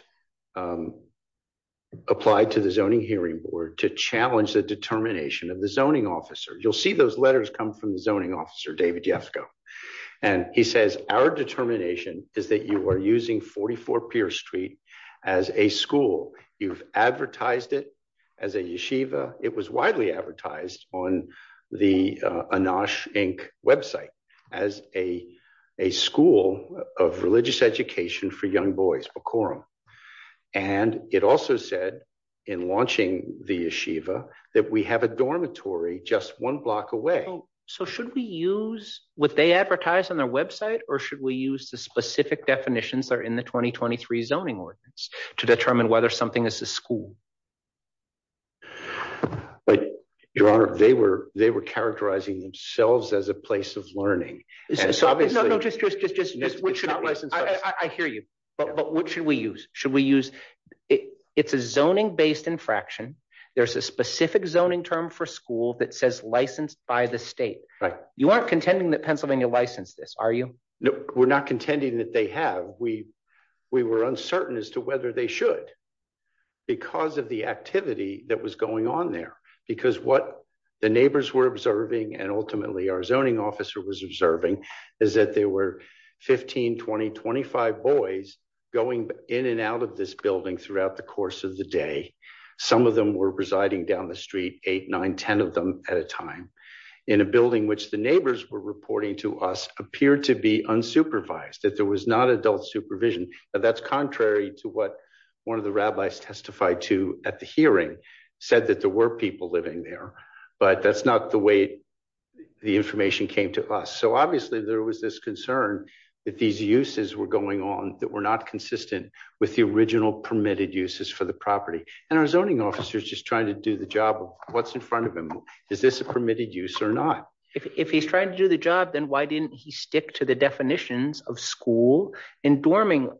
apply to the Zoning Hearing Board to challenge the determination of the zoning officer. You'll see those letters come from the zoning officer, David Yefko, and he says, our determination is that you are using 44 Pierce Street as a school. You've advertised it as a yeshiva. It was widely advertised on the Anosh, Inc. website as a school of religious education for young boys, a quorum. And it also said, in launching the yeshiva, that we have a dormitory just one block away. So should we use what they advertise on their website, or should we use the specific definitions that are in the 2023 Zoning Ordinance to determine whether something is a school? But, Your Honor, they were characterizing themselves as a place of learning. No, no, just, just, just, I hear you. But what should we use? Should we use, it's a zoning-based infraction. There's a specific zoning term for school that says licensed by the state. Right. You aren't contending that Pennsylvania licensed this, are you? No, we're not contending that they have. We were uncertain as to whether they should, because of the activity that was going on there. Because what the neighbors were observing, and ultimately our zoning officer was observing, is that there were 15, 20, 25 boys going in and out of this building throughout the course of the day. Some of them were residing down the street, 8, 9, 10 of them at a time, in a building which the neighbors were reporting to us appeared to be unsupervised, that there was not adult supervision. That's contrary to what one of the rabbis testified to at the hearing, said that there were people living there, but that's not the way the information came to us. So obviously there was this concern that these uses were going on that were not consistent with the original permitted uses for the property. And our zoning officer is just trying to do the job. What's in front of him? Is this a permitted use or not? If he's trying to do the job, then why didn't he stick to the definitions of school and dormitory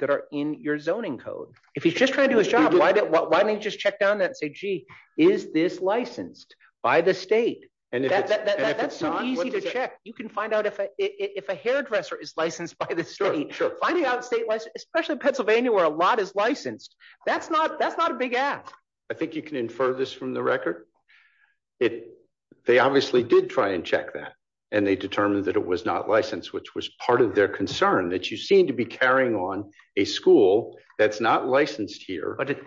that are in your zoning code? If he's just trying to do his job, why didn't he just check down that and say, gee, is this licensed by the state? And that's so easy to check. You can find out if a hairdresser is licensed by the state. Finding out state license, especially Pennsylvania where a lot is licensed, that's not a big ask. I think you can infer this from the record. They obviously did try and check that, and they determined that it was not licensed, which was part of their concern, that you seem to be carrying on a school that's not licensed here. But if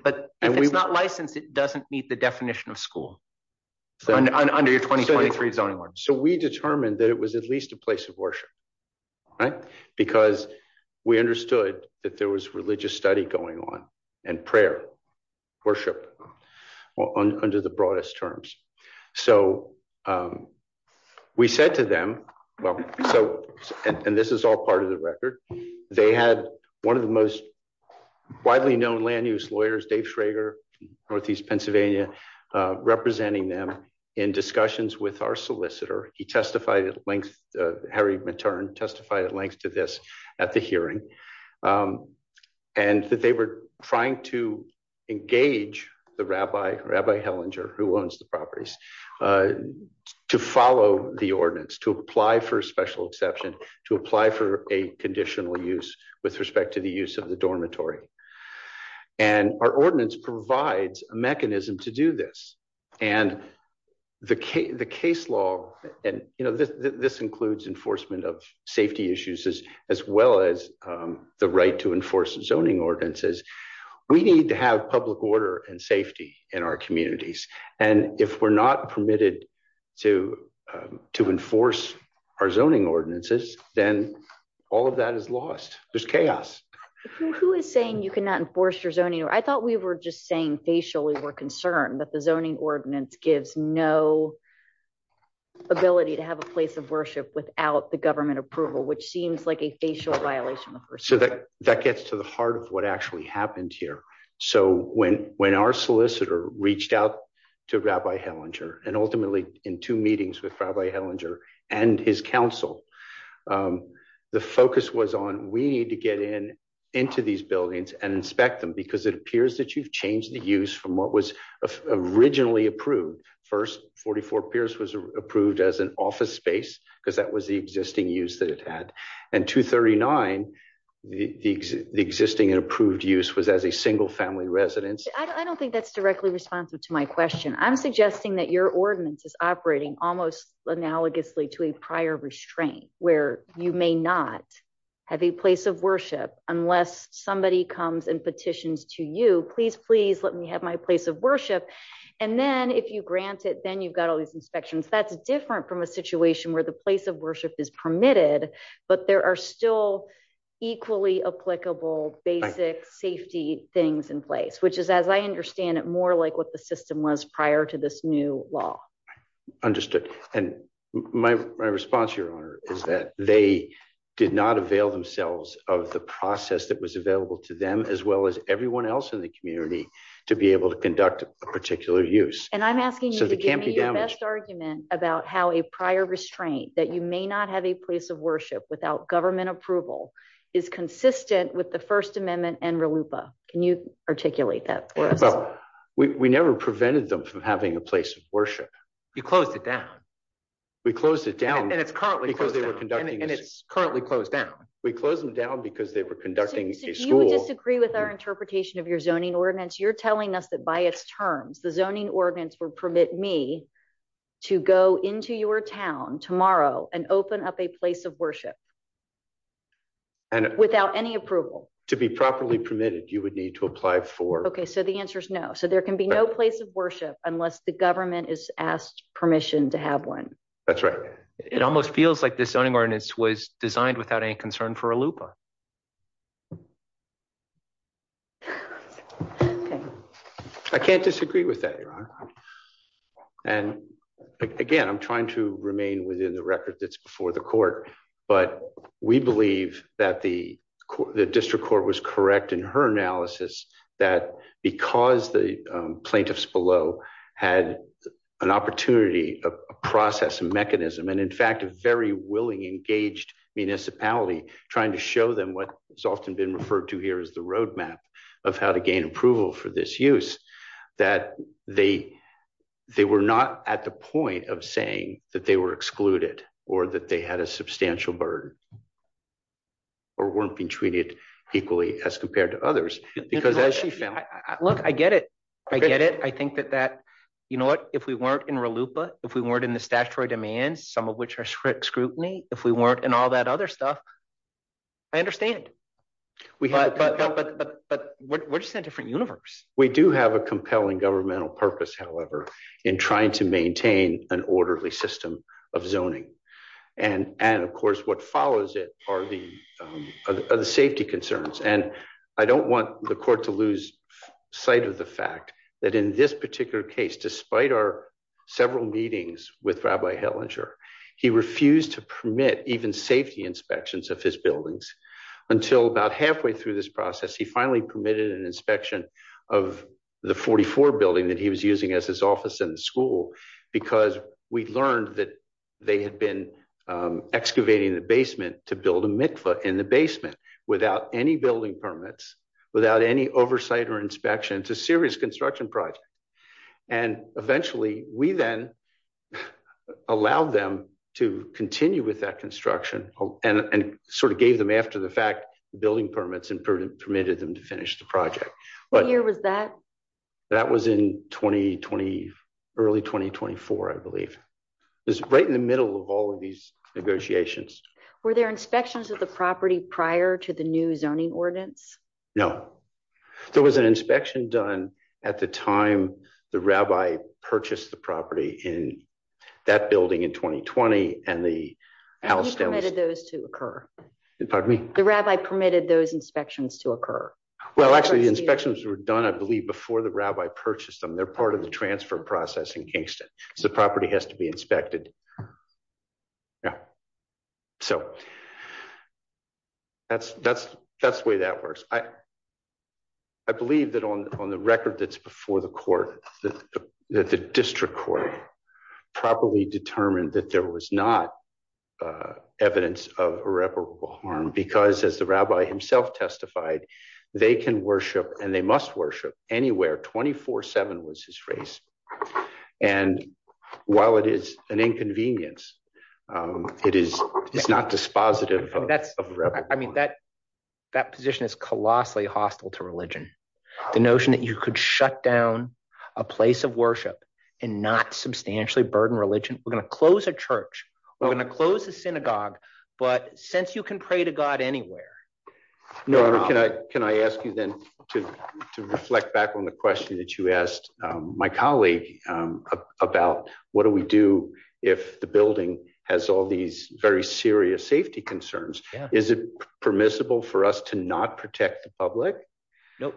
it's not licensed, it doesn't meet the definition of school under your 2023 zoning order. So we determined that it was at least a place of worship, right? Because we understood that there was religious study going on and prayer, worship under the broadest terms. So we said to them, and this is all part of the record, they had one of the most widely known land use lawyers, Dave Schrager, Northeast Pennsylvania, representing them in discussions with our solicitor. He testified at length, Harry Matern testified at length to this at the hearing, and that they were trying to engage the rabbi, Rabbi Hellinger, who owns the properties, to follow the ordinance, to apply for a special exception, to apply for a conditional use with respect to the use of the dormitory. And our ordinance provides a mechanism to do this. And the case law, and this includes enforcement of safety issues as well as the right to enforce zoning ordinances, we need to have public order and safety in our communities. And if we're not permitted to enforce our zoning ordinances, then all of that is lost. There's chaos. Who is saying you cannot enforce your zoning? I thought we were just saying facially we're concerned, but the zoning ordinance gives no ability to have a place of worship without the government approval, which seems like a facial violation. That gets to the heart of what actually happened here. So when our solicitor reached out to Rabbi Hellinger, and ultimately in two meetings with Rabbi Hellinger and his counsel, the focus was on, we need to get in into these buildings and inspect them because it appears that you've changed the use from what was originally approved. First, 44 Pierce was approved as an office space because that was the existing use that it had. And 239, the existing approved use was as a single family residence. I don't think that's directly responsive to my question. I'm suggesting that your ordinance is operating almost analogously to a prior restraint where you may not have a place of worship unless somebody comes and petitions to you, please, please let me have my place of worship. And then if you grant it, then you've got all these inspections. That's different from a situation where the place of worship is permitted, but there are still equally applicable basic safety things in place, which is, as I understand it, more like what the system was prior to this new law. Understood. And my response, Your Honor, is that they did not avail themselves of the process that was available to them as well as everyone else in the community to be able to conduct a particular use. And I'm asking you to give me your best argument about how a prior restraint that you may not have a place of worship without government approval is consistent with the First Amendment and RLUIPA. Can you articulate that for us? We never prevented them from having a place of worship. You closed it down. We closed it down. And it's currently closed down. And it's currently closed down. We closed them down because they were conducting a school. So if you disagree with our interpretation of your zoning ordinance, you're telling us that by its terms, the zoning ordinance would permit me to go into your town tomorrow and open up a place of worship. Without any approval. To be properly permitted, you would need to apply for. So the answer is no. So there can be no place of worship unless the government is asked permission to have one. That's right. It almost feels like this zoning ordinance was designed without any concern for RLUIPA. I can't disagree with that. And again, I'm trying to remain within the record that's before the court. But we believe that the district court was correct in her analysis that because the plaintiffs below had an opportunity, a process, a mechanism, and in fact, a very willing, engaged municipality trying to show them what has often been referred to here as the roadmap of how to gain approval for this use, that they were not at the point of saying that they were excluded or that they had a substantial burden or weren't being treated equally as compared to others. Because as she said, look, I get it. I get it. I think that that, you know what, if we weren't in RLUIPA, if we weren't in the statutory demands, some of which are scrutiny, if we weren't in all that other stuff, I understand. But we're just in a different universe. We do have a compelling governmental purpose, however, in trying to maintain an orderly of zoning. And of course, what follows it are the safety concerns. And I don't want the court to lose sight of the fact that in this particular case, despite our several meetings with Rabbi Hellinger, he refused to permit even safety inspections of his buildings until about halfway through this process. He finally permitted an inspection of the 44 building that he was using as his office in the school because we learned that they had been excavating the basement to build a mikveh in the basement without any building permits, without any oversight or inspection. It's a serious construction project. And eventually we then allowed them to continue with that construction and sort of gave them after the fact building permits and permitted them to finish the project. What year was that? That was in 2020, early 2024, I believe. It was right in the middle of all of these negotiations. Were there inspections of the property prior to the new zoning ordinance? No. There was an inspection done at the time the rabbi purchased the property in that building in 2020. And he permitted those to occur. Pardon me? The rabbi permitted those inspections to occur. Well, actually the inspections were done, I believe, before the rabbi purchased them. They're part of the transfer process in Kingston. So the property has to be inspected. Yeah. So that's the way that works. I believe that on the record that's before the court, that the district court properly determined that there was not evidence of irreparable harm because as the rabbi himself testified, they can worship and they must worship anywhere 24-7 was his phrase. And while it is an inconvenience, it is not dispositive of irreparable harm. I mean, that position is colossally hostile to religion. The notion that you could shut down a place of worship and not substantially burden religion. We're going to close a church. We're going to close the synagogue. But since you can pray to God anywhere. Can I ask you then to reflect back on the question that you asked my colleague about what do we do if the building has all these very serious safety concerns? Is it permissible for us to not protect the public? No,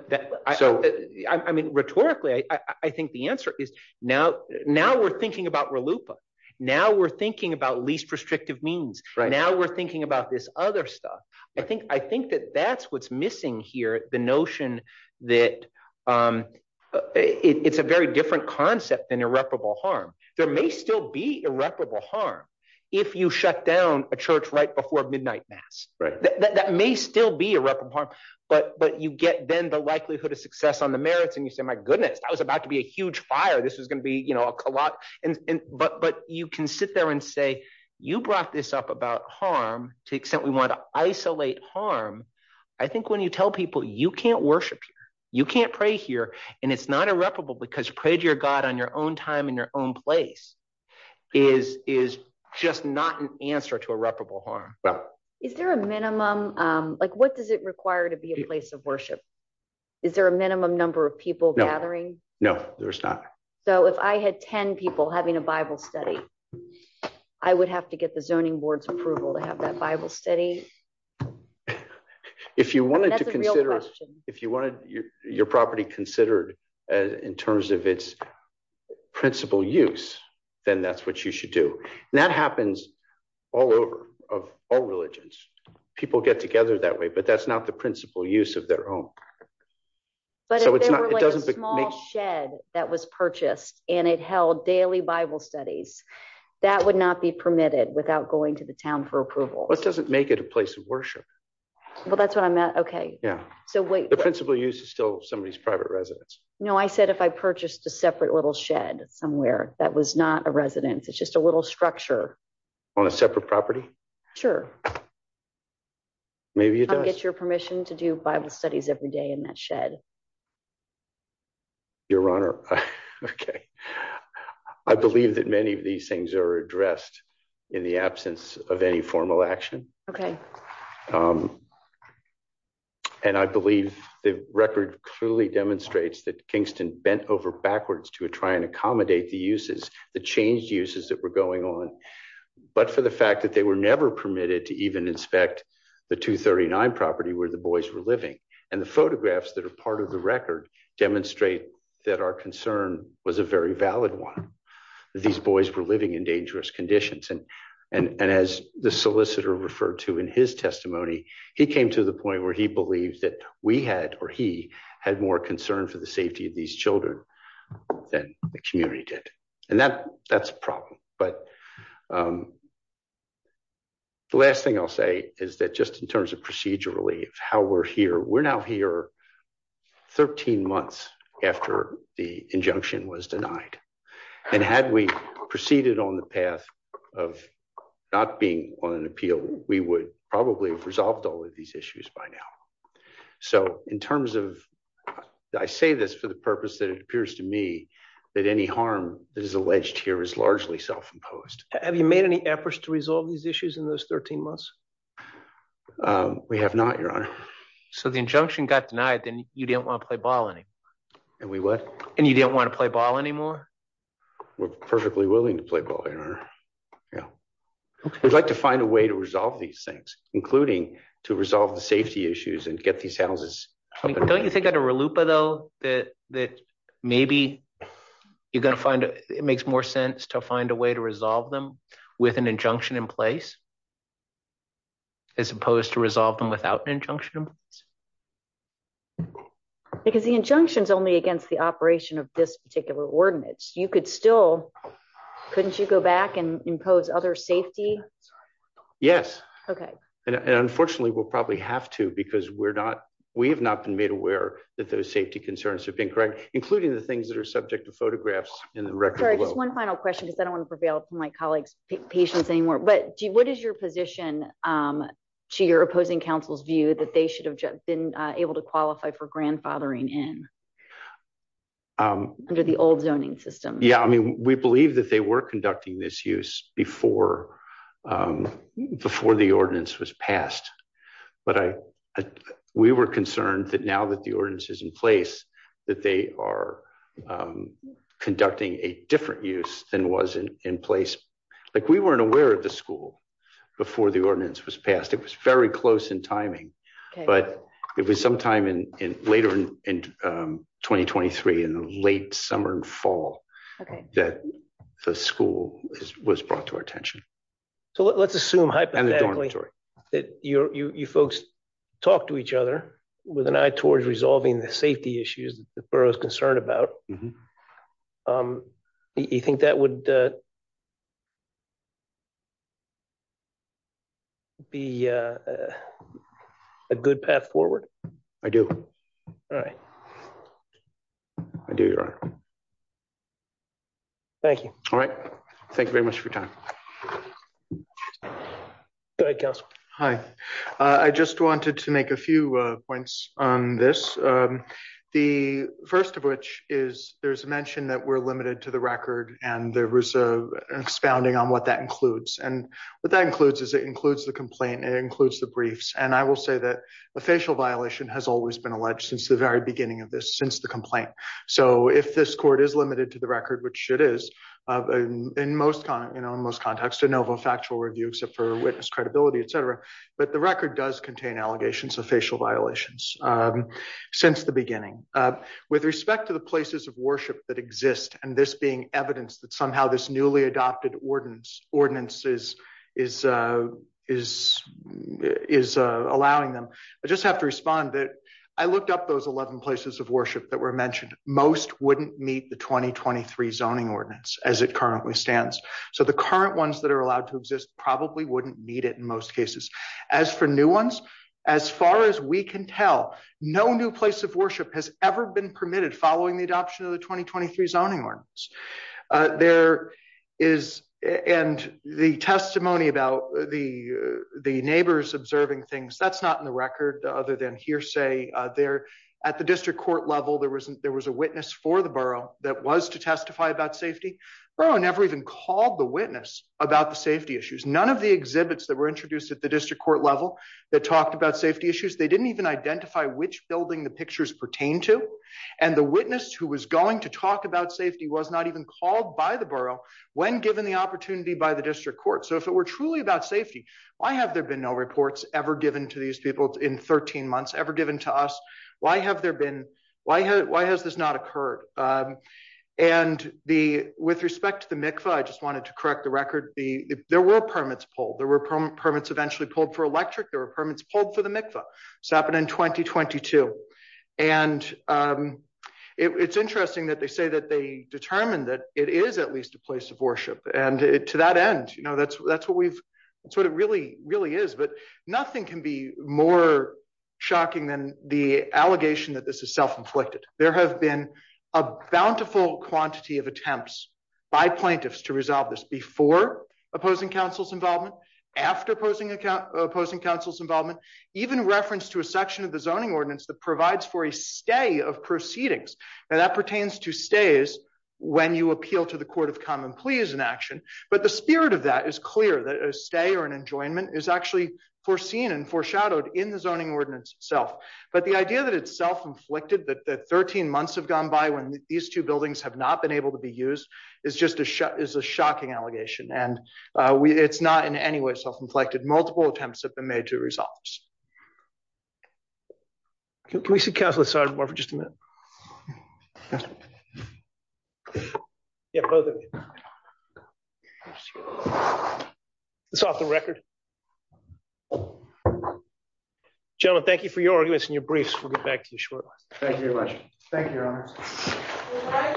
I mean, rhetorically, I think the answer is now we're thinking about RLUIPA. Now we're thinking about least restrictive means. Now we're thinking about this other stuff. I think that that's what's missing here. The notion that it's a very different concept than irreparable harm. There may still be irreparable harm if you shut down a church right before midnight mass. That may still be irreparable harm, but you get then the likelihood of success on the merits and you say, my goodness, I was about to be a huge fire. This was going to be, you know, a co-op. But you can sit there and say, you brought this up about harm to the extent we want to isolate harm. I think when you tell people you can't worship, you can't pray here and it's not irreparable because you prayed to your God on your own time in your own place is just not an answer to irreparable harm. Is there a minimum, like what does it require to be a place of worship? Is there a minimum number of people gathering? No, there's not. So if I had 10 people having a Bible study, I would have to get the zoning board's approval to have that Bible study. If you wanted to consider, if you wanted your property considered in terms of its principal use, then that's what you should do. And that happens all over of all religions. People get together that way, but that's not the principal use of their own. But it doesn't make shed that was purchased and it held daily Bible studies that would not be permitted without going to the town for approval. It doesn't make it a place of worship. Well, that's what I meant. Yeah. So wait, the principal use is still somebody's private residence. No, I said, if I purchased a separate little shed somewhere that was not a residence, it's just a little structure. On a separate property. Sure. Maybe you don't get your permission to do Bible studies every day. And that shed your honor. I believe that many of these things are addressed in the absence of any formal action. And I believe the record clearly demonstrates that Kingston bent over backwards to try and accommodate the uses the changed uses that were going on. But for the fact that they were never permitted to even inspect the 239 property where the boys were living. And the photographs that are part of the record demonstrate that our concern was a very valid one. These boys were living in dangerous conditions. And and as the solicitor referred to in his testimony, he came to the point where he believed that we had or he had more concern for the safety of these children than the community did. And that that's a problem. But the last thing I'll say is that just in terms of procedurally of how we're here, we're now here 13 months after the injunction was denied. And had we proceeded on the path of not being on an appeal, we would probably have resolved all of these issues by now. So in terms of I say this for the purpose that it appears to me that any harm that is imposed. Have you made any efforts to resolve these issues in those 13 months? We have not, your honor. So the injunction got denied, then you didn't want to play ball anymore. And we what? And you didn't want to play ball anymore. We're perfectly willing to play ball, your honor. Yeah. We'd like to find a way to resolve these things, including to resolve the safety issues and get these houses. Don't you think that a RLUIPA, though, that that maybe you're going to find it makes more to find a way to resolve them with an injunction in place. As opposed to resolve them without an injunction. Because the injunction is only against the operation of this particular ordinance, you could still couldn't you go back and impose other safety? Yes. Okay. And unfortunately, we'll probably have to because we're not we have not been made aware that those safety concerns have been correct, including the things that are subject to photographs in the record. One final question, because I don't want to prevail from my colleagues patients anymore. But what is your position to your opposing counsel's view that they should have been able to qualify for grandfathering in under the old zoning system? Yeah, I mean, we believe that they were conducting this use before before the ordinance was passed. But I we were concerned that now that the ordinance is in place, that they are conducting a different use than was in place. Like we weren't aware of the school before the ordinance was passed. It was very close in timing. But it was sometime in later in 2023 in the late summer and fall that the school was brought to our attention. So let's assume hypothetically that you folks talk to each other with an eye towards resolving the safety issues that the borough is concerned about. You think that would be a good path forward? I do. All right. I do your honor. Thank you. All right. Thank you very much for your time. Good council. Hi. I just wanted to make a few points on this. The first of which is there's a mention that we're limited to the record. And there was a expounding on what that includes. And what that includes is it includes the complaint. It includes the briefs. And I will say that a facial violation has always been alleged since the very beginning of this since the complaint. So if this court is limited to the record, which it is in most, you know, in most contexts except for witness credibility, et cetera. But the record does contain allegations of facial violations since the beginning. With respect to the places of worship that exist, and this being evidence that somehow this newly adopted ordinance is allowing them, I just have to respond that I looked up those 11 places of worship that were mentioned. Most wouldn't meet the 2023 zoning ordinance as it currently stands. So the current ones that are allowed to exist probably wouldn't need it in most cases. As for new ones, as far as we can tell, no new place of worship has ever been permitted following the adoption of the 2023 zoning ordinance. There is, and the testimony about the neighbors observing things, that's not in the record other than hearsay there. At the district court level, there was a witness for the borough that was to testify about safety. Borough never even called the witness about the safety issues. None of the exhibits that were introduced at the district court level that talked about safety issues. They didn't even identify which building the pictures pertain to. And the witness who was going to talk about safety was not even called by the borough when given the opportunity by the district court. So if it were truly about safety, why have there been no reports ever given to these people in 13 months, ever given to us? Why have there been, why has this not occurred? And the, with respect to the MICFA, I just wanted to correct the record. There were permits pulled. There were permits eventually pulled for electric. There were permits pulled for the MICFA. This happened in 2022. And it's interesting that they say that they determined that it is at least a place of And to that end, you know, that's what we've, that's what it really, really is. But nothing can be more shocking than the allegation that this is self-inflicted. There have been a bountiful quantity of attempts by plaintiffs to resolve this before opposing counsel's involvement, after opposing counsel's involvement, even reference to a section of the zoning ordinance that provides for a stay of proceedings. And that pertains to stays when you appeal to the court of common plea as an action. But the spirit of that is clear that a stay or an enjoyment is actually foreseen and foreshadowed in the zoning ordinance itself. But the idea that it's self-inflicted, that 13 months have gone by when these two buildings have not been able to be used is just a shock, is a shocking allegation. And it's not in any way self-inflicted. Multiple attempts have been made to resolve this. Can we see counselor Sardarbar for just a minute? It's off the record. Gentlemen, thank you for your arguments and your briefs. We'll get back to you shortly. Thank you very much. Thank you, your honor.